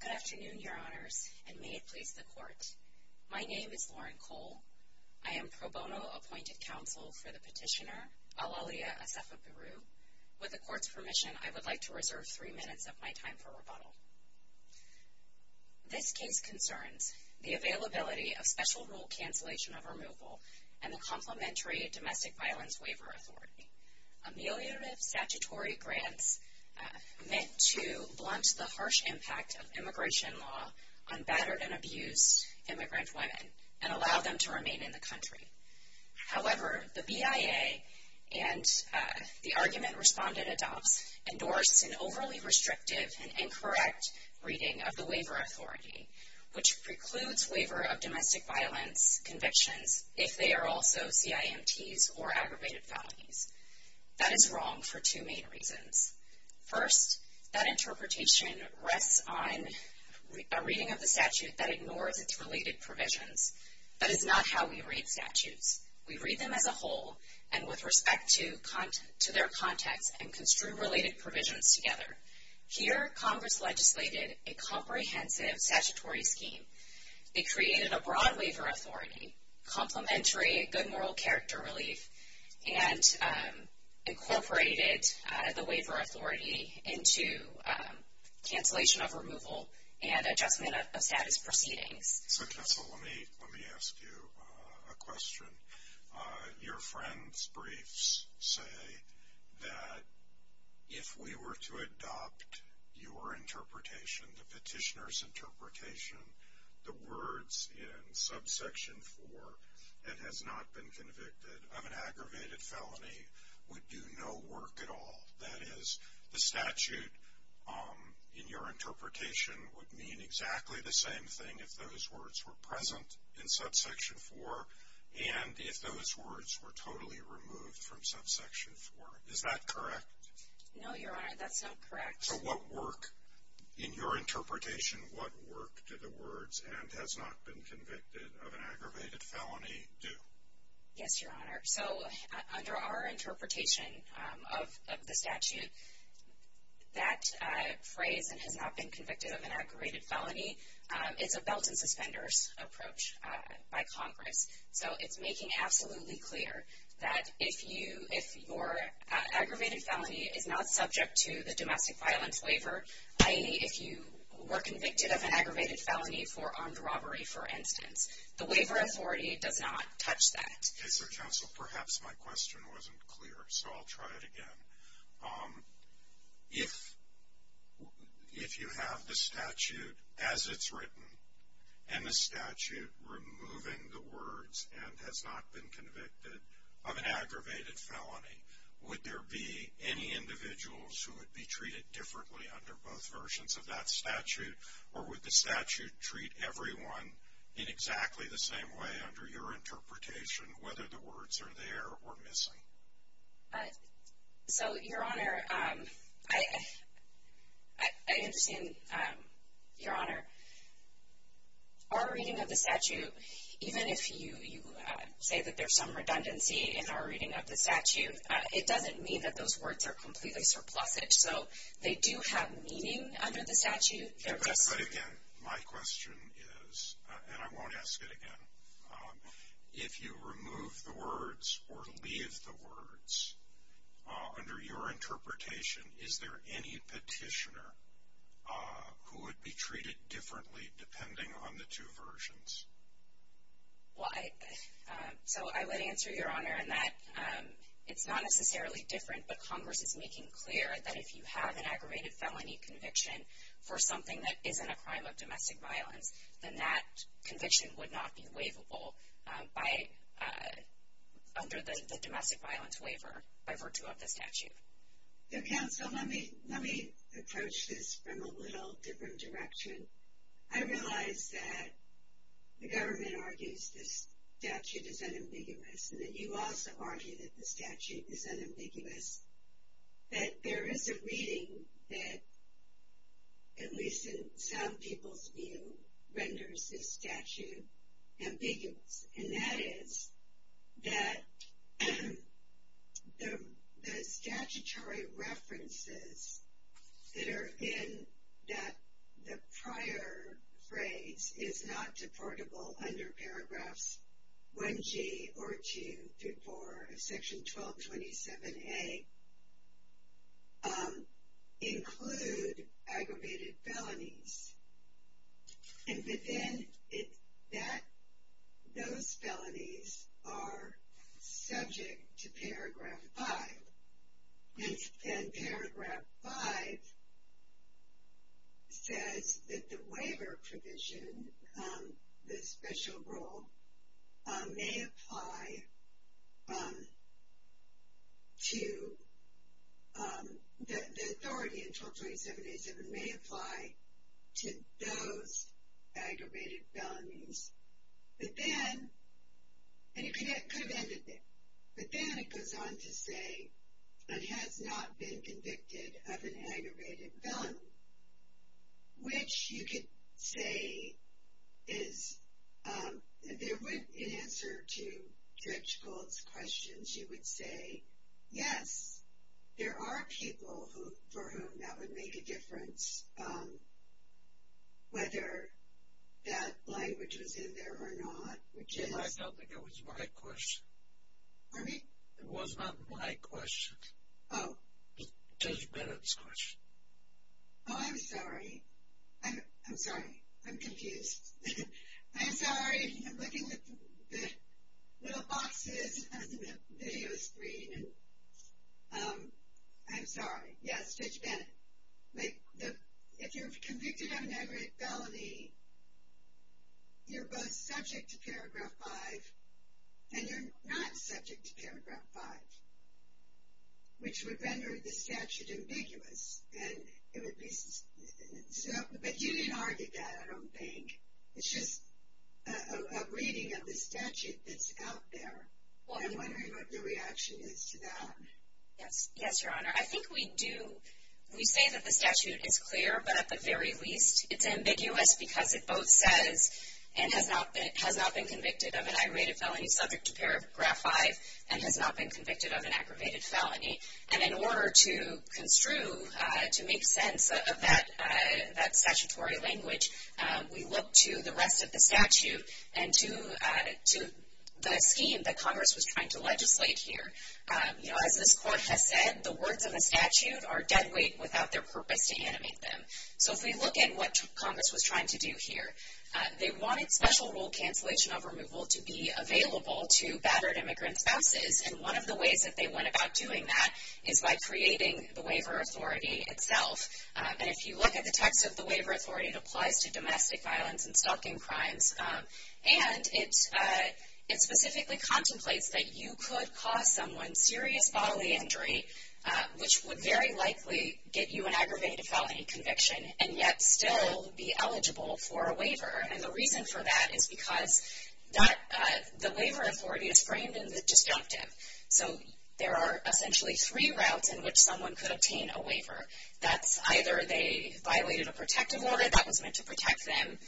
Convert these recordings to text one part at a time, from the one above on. Good afternoon, Your Honors, and may it please the Court. My name is Lauren Cole. I am pro bono appointed counsel for the petitioner, Aylaliya Assefa Birru. With the Court's permission, I would like to reserve three minutes of my time for rebuttal. This case concerns the availability of special rule cancellation of removal and the Complementary Domestic Violence Waiver Authority. Ameliorative statutory grants meant to blunt the harsh impact of immigration law on battered and abused immigrant women and allow them to remain in the country. However, the BIA and the argument respondent adopts endorsed an overly restrictive and incorrect reading of the waiver authority, which precludes waiver of domestic violence convictions if they are also CIMTs or aggravated felonies. That is wrong for two main reasons. First, that interpretation rests on a reading of the statute that ignores its related provisions. That is not how we read statutes. We read them as a whole and with respect to their context and construe related provisions together. Here, Congress legislated a comprehensive statutory scheme. It created a broad waiver authority, complementary good moral character relief, and incorporated the waiver authority into cancellation of removal and adjustment of status proceedings. So, Tessa, let me ask you a question. Your friend's briefs say that if we were to adopt your interpretation, the petitioner's interpretation, the words in subsection 4 that has not been convicted of an aggravated felony would do no work at all. That is, the statute in your interpretation would mean exactly the same thing if those words were present in subsection 4 and if those words were totally removed from subsection 4. Is that correct? No, Your Honor. That's not correct. So what work, in your interpretation, what work do the words and has not been convicted of an aggravated felony do? Yes, Your Honor. So under our interpretation of the statute, that phrase and has not been convicted of an aggravated felony, it's a belt and suspenders approach by Congress. So it's making absolutely clear that if your aggravated felony is not subject to the domestic violence waiver, i.e., if you were convicted of an aggravated felony for armed robbery, for instance, the waiver authority does not touch that. Mr. Counsel, perhaps my question wasn't clear, so I'll try it again. If you have the statute as it's written and the statute removing the words and has not been convicted of an aggravated felony, would there be any individuals who would be treated differently under both versions of that statute? Or would the statute treat everyone in exactly the same way under your interpretation, whether the words are there or missing? So, Your Honor, I understand, Your Honor, our reading of the statute, even if you say that there's some redundancy in our reading of the statute, it doesn't mean that those words are completely surplusage. So they do have meaning under the statute, they're just- But again, my question is, and I won't ask it again, if you remove the words or leave the words under your interpretation, is there any petitioner who would be treated differently depending on the two versions? Well, so I would answer, Your Honor, in that it's not necessarily different, but Congress is making clear that if you have an aggravated felony conviction for something that isn't a crime of domestic violence, then that conviction would not be waivable under the domestic violence waiver by virtue of the statute. So, counsel, let me approach this from a little different direction. I realize that the government argues this statute is unambiguous, and that you also argue that the statute is unambiguous, that there is a reading that, at least in some people's view, renders this statute ambiguous. And that is that the statutory references that are in that prior phrase is not deportable under paragraphs 1G or 2 through 4 of section 1227A include aggravated felonies. And within that, those felonies are subject to paragraph 5. And paragraph 5 says that the waiver provision, the special rule, may apply to the authority in 1227A7, may apply to those aggravated felonies. But then, and it could have ended there, but then it goes on to say it has not been convicted of an aggravated felony, which you could say is, in answer to Judge Gould's questions, you would say, yes, there are people for whom that would make a difference, whether that language was in there or not, which is. I don't think it was my question. Pardon me? It was not my question. Oh. Judge Bennett's question. Oh, I'm sorry. I'm sorry. I'm confused. I'm sorry. I'm looking at the little boxes on the video screen, and I'm sorry. Yes, Judge Bennett, if you're convicted of an aggravated felony, you're both subject to paragraph 5, and you're not subject to paragraph 5, which would render the statute ambiguous, and it would be. But you didn't argue that, I don't think. It's just a reading of the statute that's out there. I'm wondering what your reaction is to that. Yes. Yes, Your Honor. I think we do, we say that the statute is clear, but at the very least, it's ambiguous because it both says, and has not been convicted of an aggravated felony subject to paragraph 5, and has not been convicted of an aggravated felony. And in order to construe, to make sense of that statutory language, we look to the rest of the statute and to the scheme that Congress was trying to legislate here. You know, as this Court has said, the words of the statute are dead weight without their purpose to animate them. So if we look at what Congress was trying to do here, they wanted special rule cancellation of removal to be available to battered immigrant spouses, and one of the ways that they went about doing that is by creating the waiver authority itself. And if you look at the text of the waiver authority, it applies to domestic violence and stalking crimes, and it specifically contemplates that you could cause someone serious bodily injury, which would very likely get you an aggravated felony conviction, and yet still be eligible for a waiver. And the reason for that is because the waiver authority is framed in the destructive. So there are essentially three routes in which someone could obtain a waiver. That's either they violated a protective order that was meant to protect them,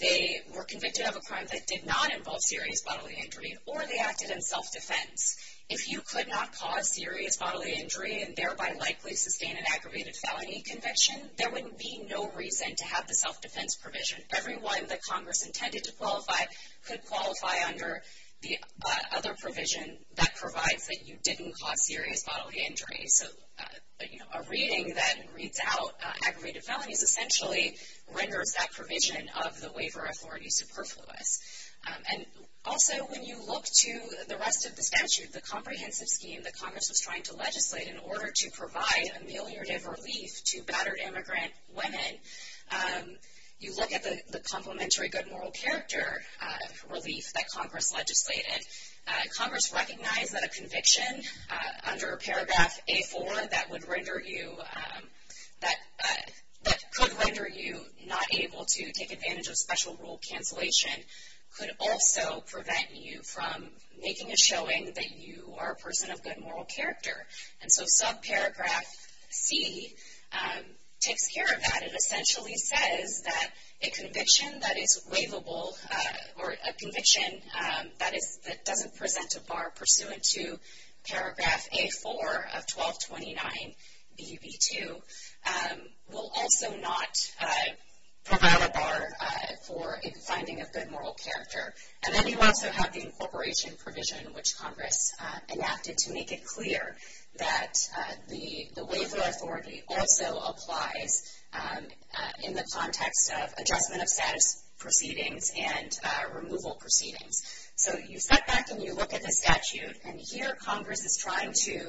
they were convicted of a crime that did not involve serious bodily injury, or they acted in self-defense. If you could not cause serious bodily injury and thereby likely sustain an aggravated felony conviction, there would be no reason to have the self-defense provision. Everyone that Congress intended to qualify could qualify under the other provision that provides that you didn't cause serious bodily injury. So a reading that reads out aggravated felonies essentially renders that provision of the waiver authority superfluous. And also when you look to the rest of the statute, the comprehensive scheme that Congress was trying to legislate in order to provide ameliorative relief to battered immigrant women, you look at the complementary good moral character relief that Congress legislated. Congress recognized that a conviction under paragraph A4 that would render you, that could render you not able to take advantage of special rule cancellation could also prevent you from making a showing that you are a person of good moral character. And so subparagraph C takes care of that. And essentially says that a conviction that is waivable, or a conviction that is, that doesn't present a bar pursuant to paragraph A4 of 1229BB2 will also not prevail a bar for finding a good moral character. And then you also have the incorporation provision which Congress enacted to make it clear that the waiver authority also applies in the context of adjustment of status proceedings and removal proceedings. So you step back and you look at the statute, and here Congress is trying to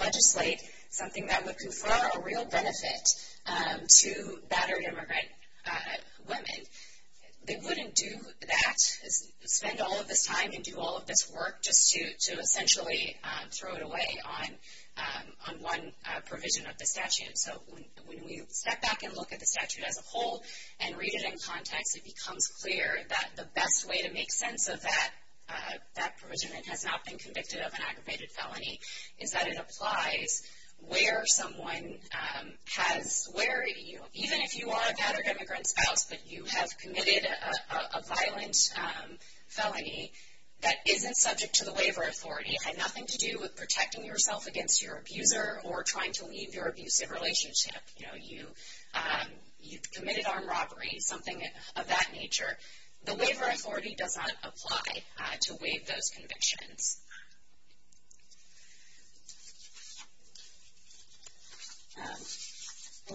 legislate something that would confer a real benefit to battered immigrant women. They wouldn't do that, spend all of this time and do all of this work just to essentially throw it away on one provision of the statute. So when we step back and look at the statute as a whole and read it in context, it becomes clear that the best way to make sense of that provision that has not been convicted of an aggravated felony is that it applies where someone has, where even if you are a battered immigrant spouse, but you have committed a violent felony that isn't subject to the statute, something to do with protecting yourself against your abuser or trying to leave your abusive relationship, you know, you've committed armed robbery, something of that nature, the waiver authority does not apply to waive those convictions.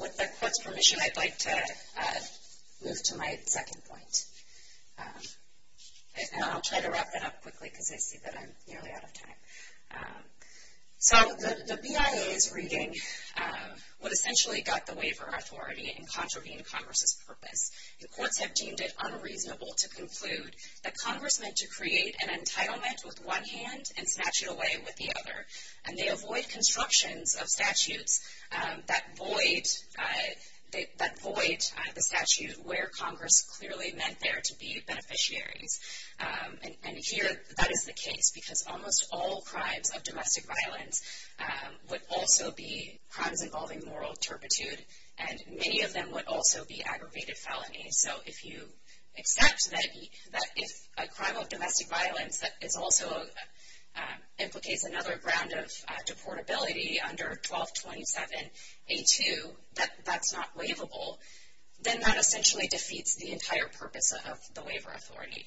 With the court's permission, I'd like to move to my second point. And I'll try to wrap that up quickly because I see that I'm nearly out of time. So the BIA is reading what essentially got the waiver authority and contravened Congress's purpose. The courts have deemed it unreasonable to conclude that Congress meant to create an entitlement with one hand and snatch it away with the other, and they avoid constructions of statutes that void the statute where Congress clearly meant there to be beneficiaries. And here, that is the case because almost all crimes of domestic violence would also be crimes involving moral turpitude, and many of them would also be aggravated felonies. So if you accept that if a crime of domestic violence that is also implicates another ground of deportability under 1227A2, that that's not waivable, then that essentially defeats the entire purpose of the waiver authority.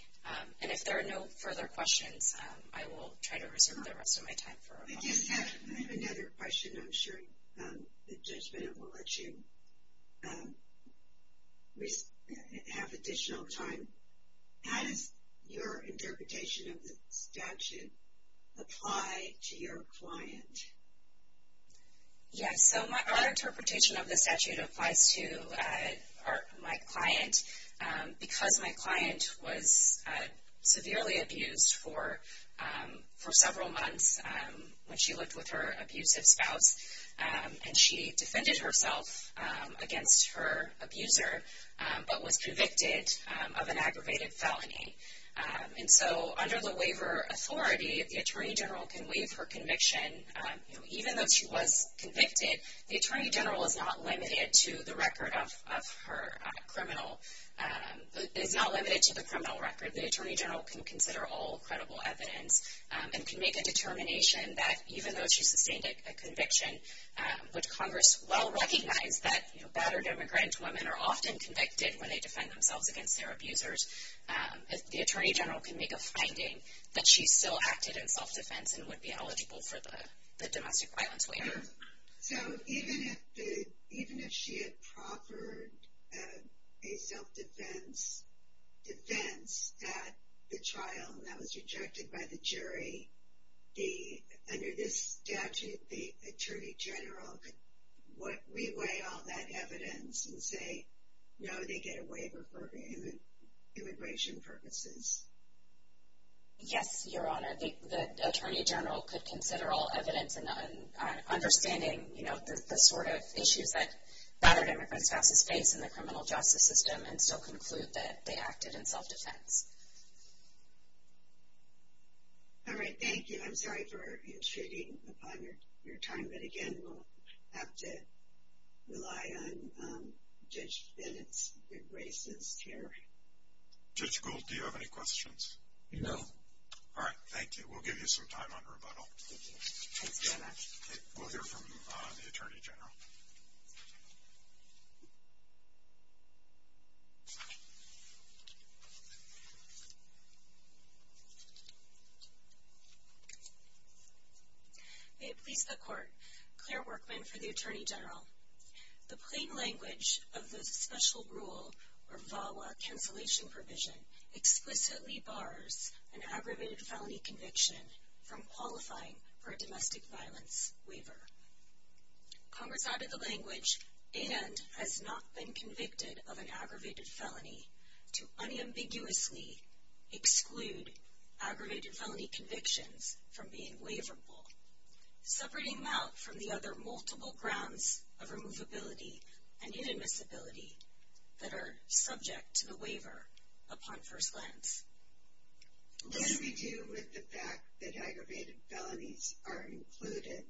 And if there are no further questions, I will try to reserve the rest of my time. I just have another question. I'm sure the judgment will let you have additional time. How does your interpretation of the statute apply to your client? Yes. So our interpretation of the statute applies to my client because my client was severely abused for several months when she lived with her abusive spouse, and she defended herself against her abuser but was convicted of an aggravated felony. And so under the waiver authority, the Attorney General can waive her conviction. Even though she was convicted, the Attorney General is not limited to the record of her criminal, is not limited to the criminal record. The Attorney General can consider all credible evidence and can make a determination that even though she sustained a conviction, which Congress well recognized that battered immigrant women are often convicted when they defend themselves against their abusers, the Attorney General can make a finding that she still acted in self-defense and would be eligible for the domestic violence waiver. So even if she had proffered a self-defense defense at the trial and that was rejected by the jury, under this statute, the Attorney General could re-weigh all that evidence and say, no, they get a waiver for immigration purposes. Yes, Your Honor. The Attorney General could consider all evidence in understanding the sort of issues that battered immigrant spouses face in the criminal justice system and still conclude that they acted in self-defense. All right, thank you. I'm sorry for intruding upon your time. But again, we'll have to rely on Judge Bennett's gracious care. Judge Gould, do you have any questions? No. All right, thank you. We'll give you some time on rebuttal. We'll hear from the Attorney General. May it please the Court, Claire Workman for the Attorney General. The plain language of the special rule or VAWA cancellation provision explicitly bars an aggravated felony conviction from qualifying for a domestic violence waiver. Congress added the language, aid and has not been convicted of an aggravated felony to unambiguously exclude aggravated felony convictions from being waiverable, separating them out from the other multiple grounds of removability and inadmissibility that are subject to the waiver upon first glance. What do we do with the fact that aggravated felonies are included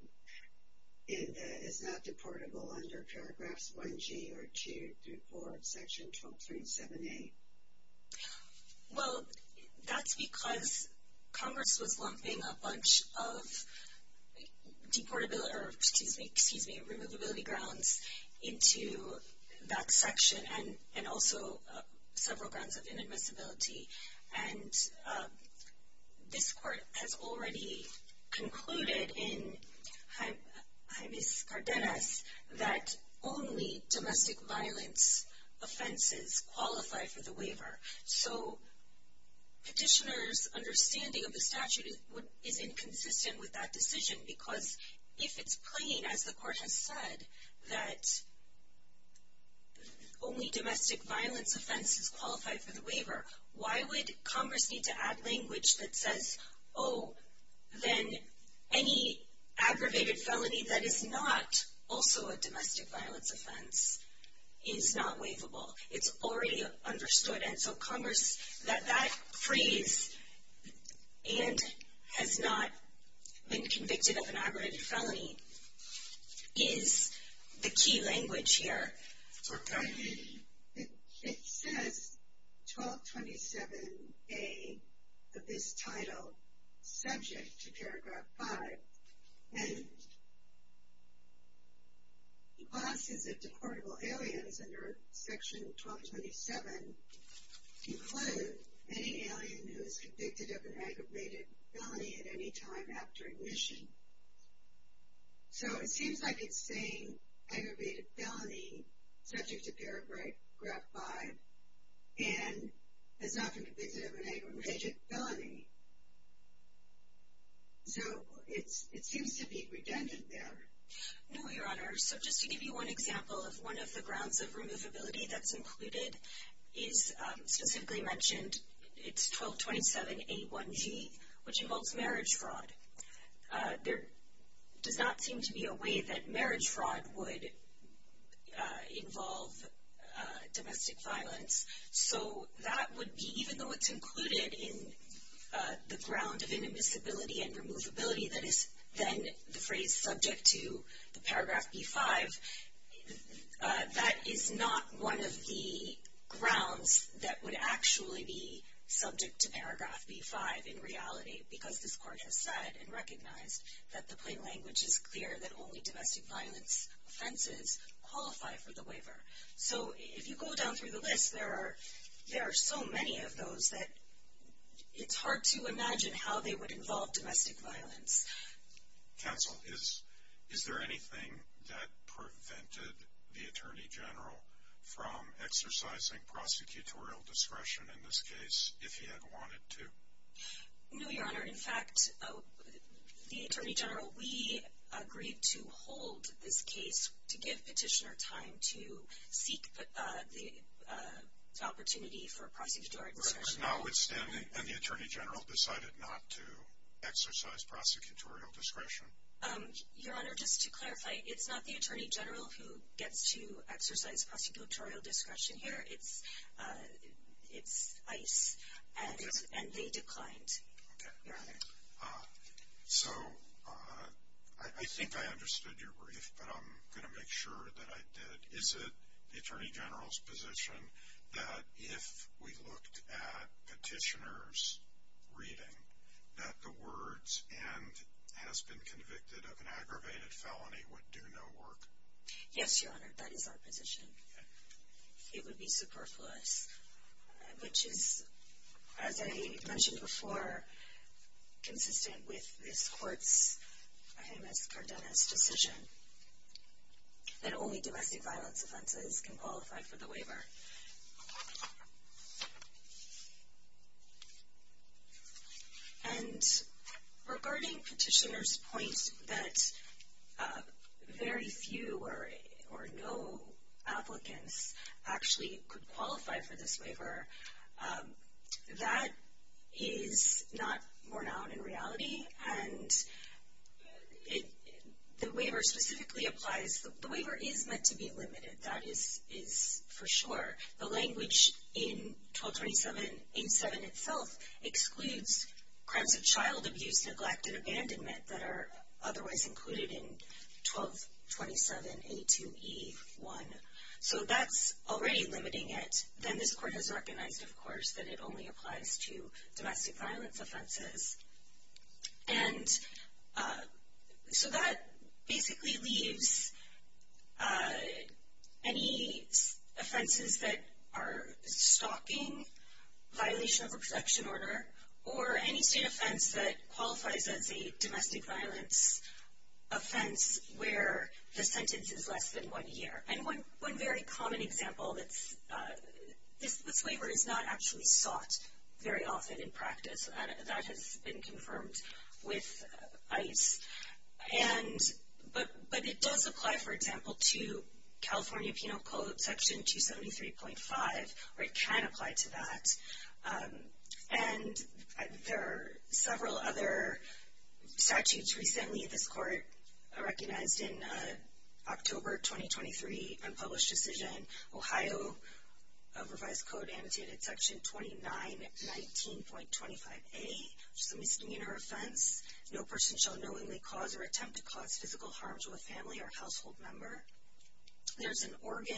in the, is not deportable under paragraphs 1G or 2 through 4 of section 1237A? Well, that's because Congress was lumping a bunch of deportability, or excuse me, excuse me, removability grounds into that section and also several grounds of inadmissibility. And this Court has already concluded in Jaimes Cardenas that only domestic violence offenses qualify for the waiver. So Petitioner's understanding of the statute is inconsistent with that decision because if it's plain, as the Court has said, that only domestic violence offenses qualify for the waiver, why would Congress need to add language that says, oh, then any aggravated felony that is not also a domestic violence offense is not waivable? It's already understood, and so Congress, that that phrase, and has not been convicted of an aggravated felony, is the key language here. So it says 1227A of this title, subject to paragraph 5, and classes of deportable aliens under section 1227 include any alien who is convicted of an aggravated felony at any time after admission. So it seems like it's saying aggravated felony, subject to paragraph 5, and has not been convicted of an aggravated felony, so it seems to be redundant there. No, Your Honor, so just to give you one example of one of the grounds of removability that's included is specifically mentioned, it's 1227A1G, which involves marriage fraud. There does not seem to be a way that marriage fraud would involve domestic violence, so that would be, even though it's included in the ground of inadmissibility and removability, that is then the phrase subject to the paragraph B5, that is not one of the grounds that would actually be subject to paragraph B5 in reality, because this court has said and recognized that the plain language is clear that only domestic violence offenses qualify for the waiver. So if you go down through the list, there are so many of those that it's hard to imagine how they would involve domestic violence. Counsel, is there anything that prevented the Attorney General from exercising prosecutorial discretion in this case if he had wanted to? No, Your Honor, in fact, the Attorney General, we agreed to hold this case to give petitioner time to seek the opportunity for prosecutorial discretion. But now it's standing, and the Attorney General decided not to exercise prosecutorial discretion? Your Honor, just to clarify, it's not the Attorney General who gets to exercise prosecutorial discretion here, it's ICE, and they declined. So I think I understood your brief, but I'm going to make sure that I did. Is it the Attorney General's position that if we looked at petitioner's reading, that the words, and has been convicted of an aggravated felony, would do no work? Yes, Your Honor, that is our position. It would be superfluous, which is, as I mentioned before, consistent with this court's, KMS Cardenas' decision, that only domestic violence offenses can qualify for the waiver. And regarding petitioner's point that very few or no applicants actually could qualify for this the waiver specifically applies, the waiver is meant to be limited, that is for sure. The language in 1227.87 itself excludes crimes of child abuse, neglect, and abandonment that are otherwise included in 1227.82e1. So that's already limiting it. Then this court has recognized, of course, that it only applies to domestic violence offenses. And so that basically leaves any offenses that are stalking, violation of a protection order, or any state offense that qualifies as a domestic violence offense where the sentence is less than one year. And one very common example that's, this waiver is not actually sought very often in practice. That has been confirmed with ICE. And, but it does apply, for example, to California Penal Code Section 273.5, or it can apply to that. And there are several other statutes recently this court recognized in October 2023 unpublished decision, Ohio revised code annotated section 2919.25a, which is a misdemeanor offense. No person shall knowingly cause or attempt to cause physical harm to a family or household member. There's an Oregon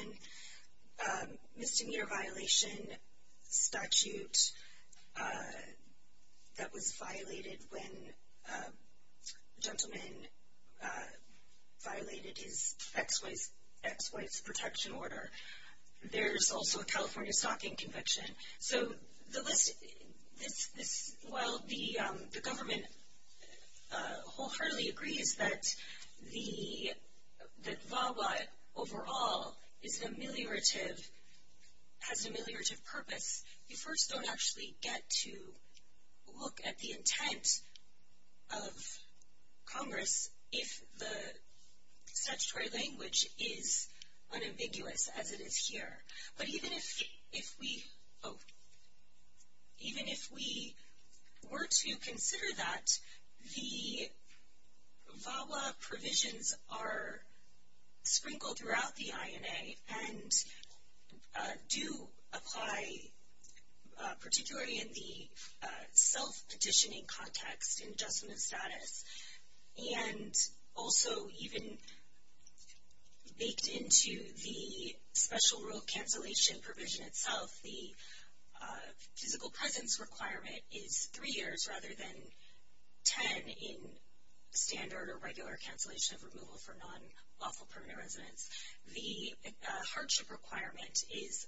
misdemeanor violation statute that was violated when a gentleman violated his ex-wife's protection order. There's also a California stalking conviction. So the list, while the government wholeheartedly agrees that VAWA overall is an ameliorative, has an ameliorative purpose, you first don't actually get to look at the intent of Congress if the statutory language is unambiguous as it is here. But even if we, oh, even if we were to consider that the VAWA provisions are petitioning context and adjustment of status, and also even baked into the special rule cancellation provision itself, the physical presence requirement is three years rather than 10 in standard or regular cancellation of removal for non-lawful permanent residence. The hardship requirement is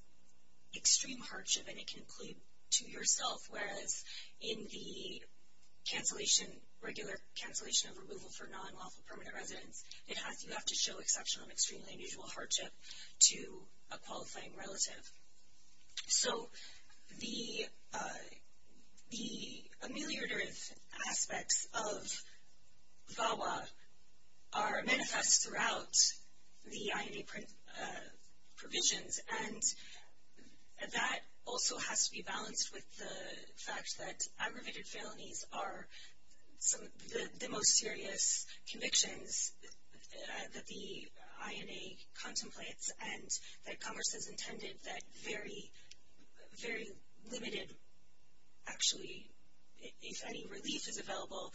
extreme hardship, and it can include to yourself, whereas in the cancellation, regular cancellation of removal for non-lawful permanent residence, it has, you have to show exceptional and extremely unusual hardship to a qualifying relative. So the ameliorative aspects of VAWA are manifest throughout the INA provisions, and that also has to be balanced with the fact that aggravated felonies are the most serious convictions that the INA contemplates, and that Congress has intended that very, very limited, actually, if any relief is available,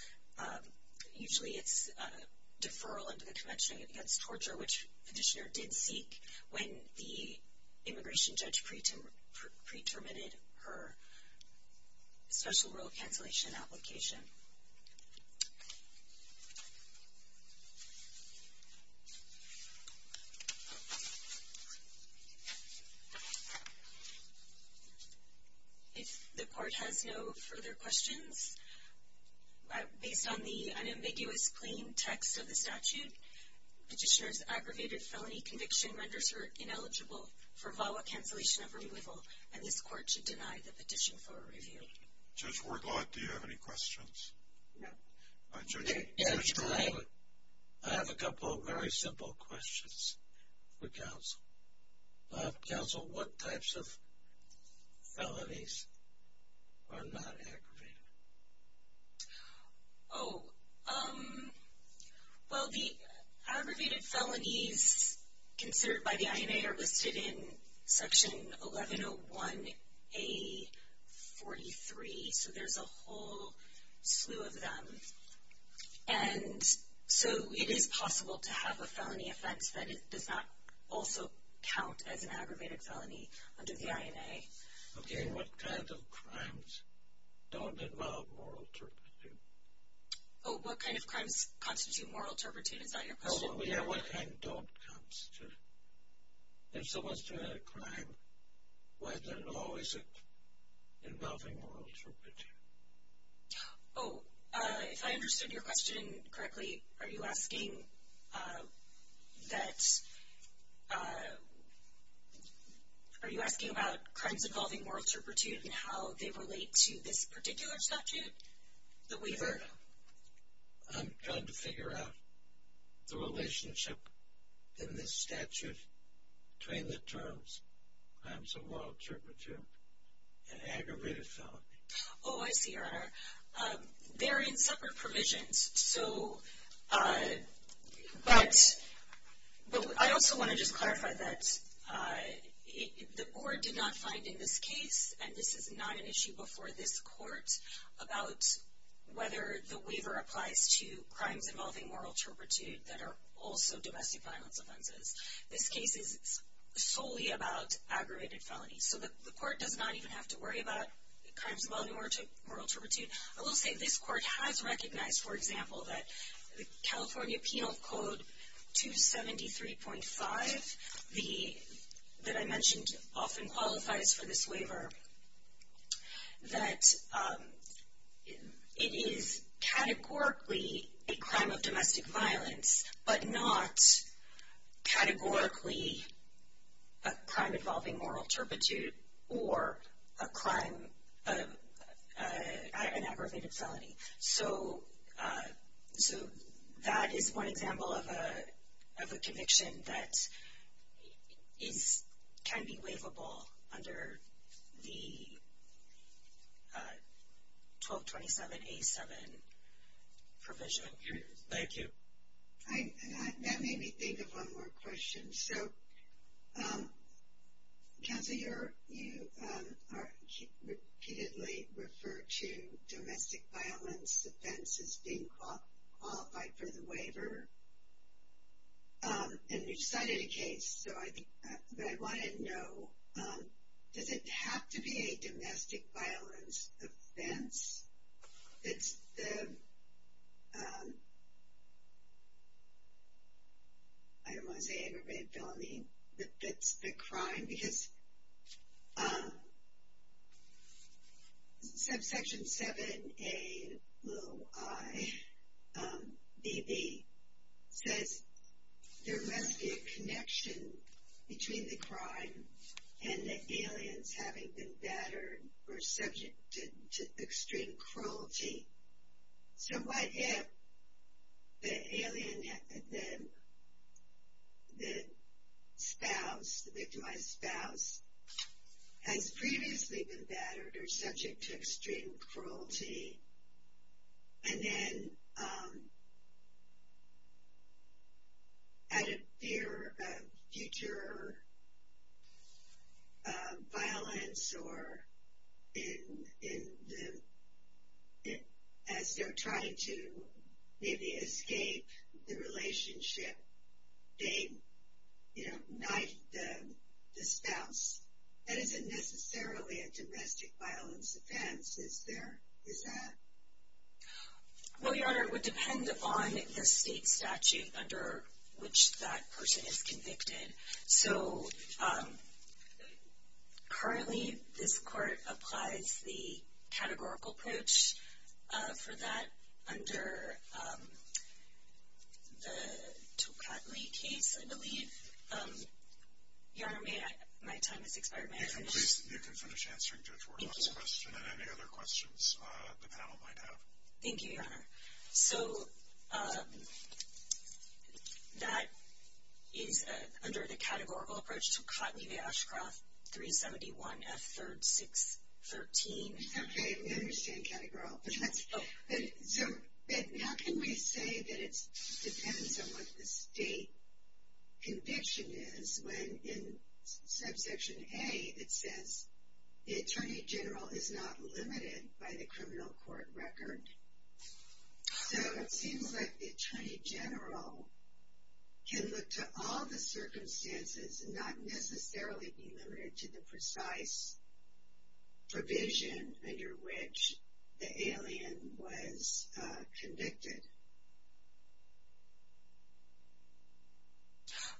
usually it's deferral under the when the immigration judge pre-terminated her special rule cancellation application. If the court has no further questions, based on the unambiguous, clean text of the statute, petitioner's aggravated felony conviction renders her ineligible for VAWA cancellation of removal, and this court should deny the petition for a review. Judge Wardlaw, do you have any questions? No. I have a couple of very simple questions for counsel. Counsel, what types of felonies are not aggravated? Oh, well, the aggravated felonies considered by the INA are listed in section 1101A43, so there's a whole slew of them, and so it is possible to have a felony offense that does not also count as an aggravated felony under the INA. Okay, what kind of crimes don't involve moral turpitude? Oh, what kind of crimes constitute moral turpitude, is that your question? Oh, yeah, what kind don't constitute. If someone's doing a crime, whether or not is it involving moral turpitude? Oh, if I understood your question correctly, are you asking that, uh, are you asking about crimes involving moral turpitude and how they relate to this particular statute that we've heard of? I'm trying to figure out the relationship in this statute between the terms, crimes of moral turpitude and aggravated felony. Oh, I see, Your Honor. They're in separate provisions, so, but I also want to just clarify that the court did not find in this case, and this is not an issue before this court, about whether the waiver applies to crimes involving moral turpitude that are also domestic violence offenses. This case is solely about aggravated felonies, so the court does not even have to worry about crimes involving moral turpitude. I will say this court has recognized, for example, that the California Penal Code 273.5, that I mentioned often qualifies for this waiver, that it is categorically a crime of domestic violence, but not categorically a crime involving moral turpitude or a crime, an aggravated felony. So, that is one example of a conviction that is, can be waivable under the 1227A7 provision. Thank you. I, that made me think of one more question. So, counsel, you repeatedly refer to domestic violence offenses being qualified for the waiver, and you've cited a case, so I want to know, does it have to be a domestic violence offense? It's the, I don't want to say aggravated felony, but it's the crime, because subsection 7A, little i, bb, says there must be a connection between the crime and the aliens having been battered or subject to extreme cruelty. So, what if the alien, the spouse, the victimized spouse, has previously been battered or subject to extreme cruelty, and then at a fear of future violence or in the, as they're trying to maybe escape the relationship, they, you know, knife the spouse? That isn't necessarily a domestic violence offense, is there? Is that? Well, Your Honor, it would depend on the state statute under which that person is convicted. So, currently, this court applies the categorical approach for that under the Tocatli case, I believe. Your Honor, my time has expired. May I finish? You can finish answering Judge Wardlaw's question and any other questions the panel might have. Thank you, Your Honor. So, that is under the categorical approach, Tocatli v. Ashcroft, 371 F3rd 613. Okay, we understand categorical. So, now can we say that it depends on what the state conviction is when in subsection A, it says the Attorney General is not limited by the criminal court record. So, it seems like the Attorney General can look to all the circumstances and not necessarily be limited to the precise provision under which the alien was convicted.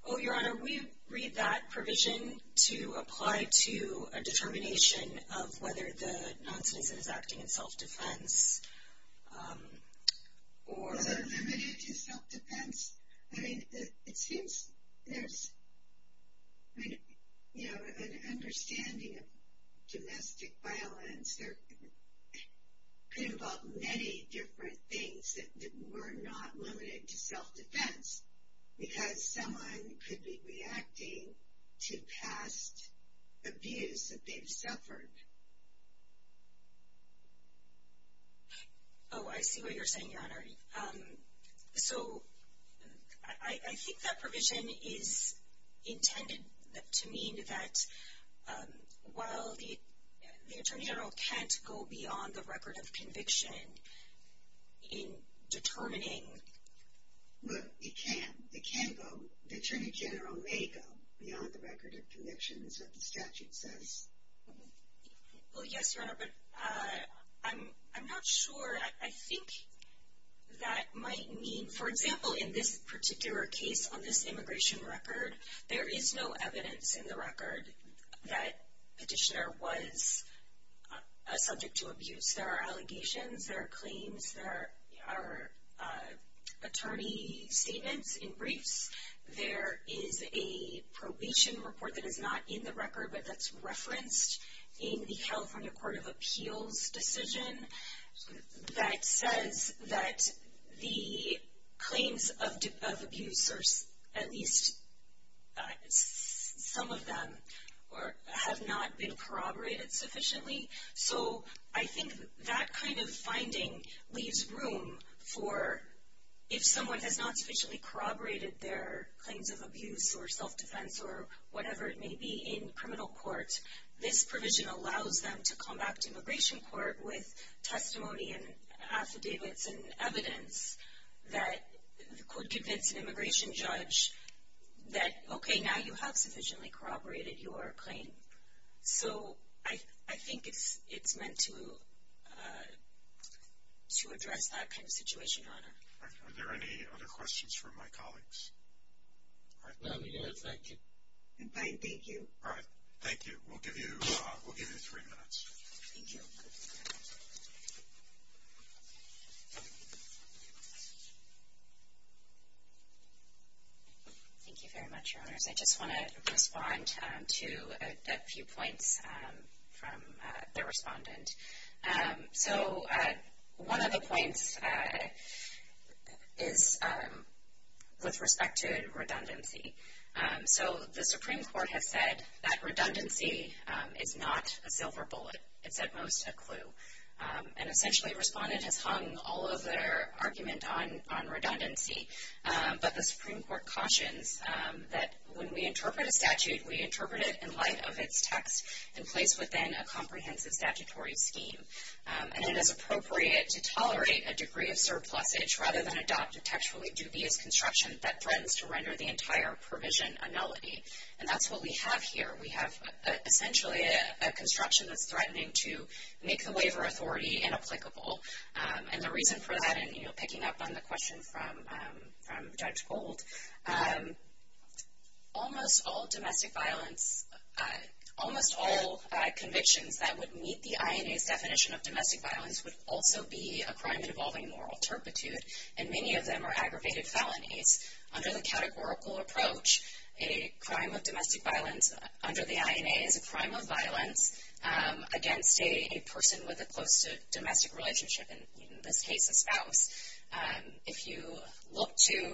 Oh, Your Honor, we read that provision to apply to a determination of whether the non-citizen is acting in self-defense. Or is it limited to self-defense? I mean, it seems there's, you know, an understanding of domestic violence, there could involve many different things that were not limited to self-defense, because someone could be reacting to past abuse that they've suffered. Oh, I see what you're saying, Your Honor. So, I think that provision is intended to mean that while the Attorney General can't go beyond the record of conviction in determining. Look, it can. It can go. The Attorney General may go beyond the record of conviction, is what the statute says. Well, yes, Your Honor, but I'm not sure. I think that might mean, for example, in this particular case on this immigration record, there is no evidence in the record that petitioner was subject to abuse. There are allegations, there are claims, there are attorney statements in briefs. There is a probation report that is not in the record, but that's referenced in the California Court of Appeals decision that says that the claims of abuse, or at least some of them, have not been corroborated sufficiently. So, I think that kind of finding leaves room for, if someone has not sufficiently corroborated their claims of abuse or self-defense or whatever it may be in criminal court, this provision allows them to come back to immigration court with testimony and affidavits and evidence that could convince an immigration judge that, okay, now you have sufficiently corroborated your claim. So, I think it's meant to address that kind of situation, Your Honor. All right. Are there any other questions from my colleagues? All right. No, Your Honor. Thank you. You're fine. Thank you. All right. Thank you. We'll give you three minutes. Thank you. Thank you very much, Your Honors. I just want to respond to a few points from the respondent. So, one of the points is with respect to redundancy. So, the Supreme Court has said that redundancy is not a silver bullet. It's at most a clue. And essentially, a respondent has hung all of their argument on redundancy. But the Supreme Court cautions that when we interpret a statute, we interpret it in light of its text and place within a comprehensive statutory scheme. And it is appropriate to tolerate a degree of surplusage rather than adopt a textually entire provision annullity. And that's what we have here. We have essentially a construction that's threatening to make the waiver authority inapplicable. And the reason for that, and picking up on the question from Judge Gold, almost all convictions that would meet the INA's definition of domestic violence would also be a crime involving moral turpitude. And many of them are aggravated felonies. Under the categorical approach, a crime of domestic violence under the INA is a crime of violence against a person with a close to domestic relationship. And in this case, a spouse. If you look to,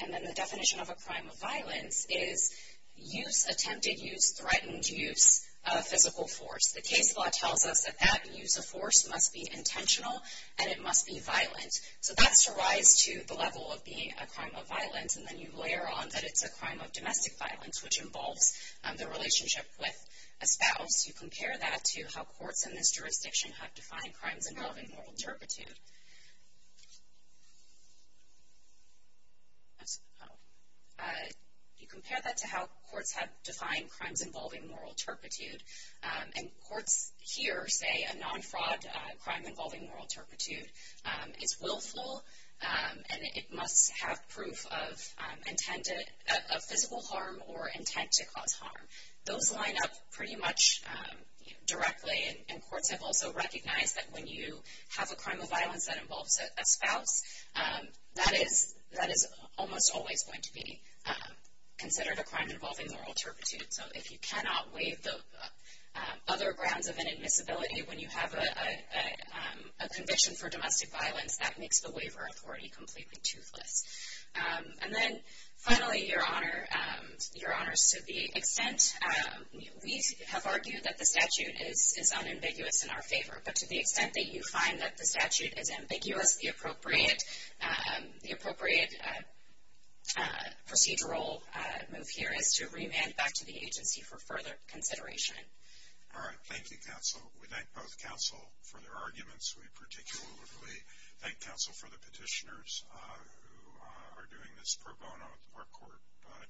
and then the definition of a crime of violence is use, attempted use, threatened use of physical force. The case law tells us that that use of force must be intentional and it must be violent. So that's a rise to the level of being a crime of violence. And then you layer on that it's a crime of domestic violence, which involves the relationship with a spouse. You compare that to how courts in this jurisdiction have defined crimes involving moral turpitude. You compare that to how courts have defined crimes involving moral turpitude. And courts here say a non-fraud crime involving moral turpitude is willful and it must have proof of intended, of physical harm or intent to cause harm. Those line up pretty much directly and courts have also recognized that when you have a crime of violence that involves a spouse, that is almost always going to be considered a crime involving moral turpitude. So if you cannot waive the other grounds of inadmissibility when you have a conviction for domestic violence, that makes the waiver authority completely toothless. And then finally, your honors, to the extent, we have argued that the statute is unambiguous in our favor. But to the extent that you find that the statute is ambiguous, the appropriate procedural move here is to remand back to the agency for further consideration. All right. Thank you, counsel. We thank both counsel for their arguments. We particularly thank counsel for the petitioners who are doing this pro bono. Our court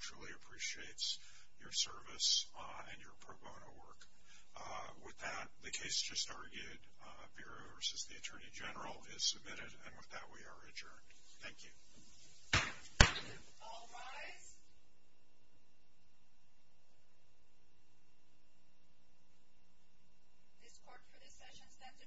truly appreciates your service and your pro bono work. With that, the case just argued, Bureau versus the Attorney General is submitted. And with that, we are adjourned. Thank you. All rise. This court for this session stands adjourned.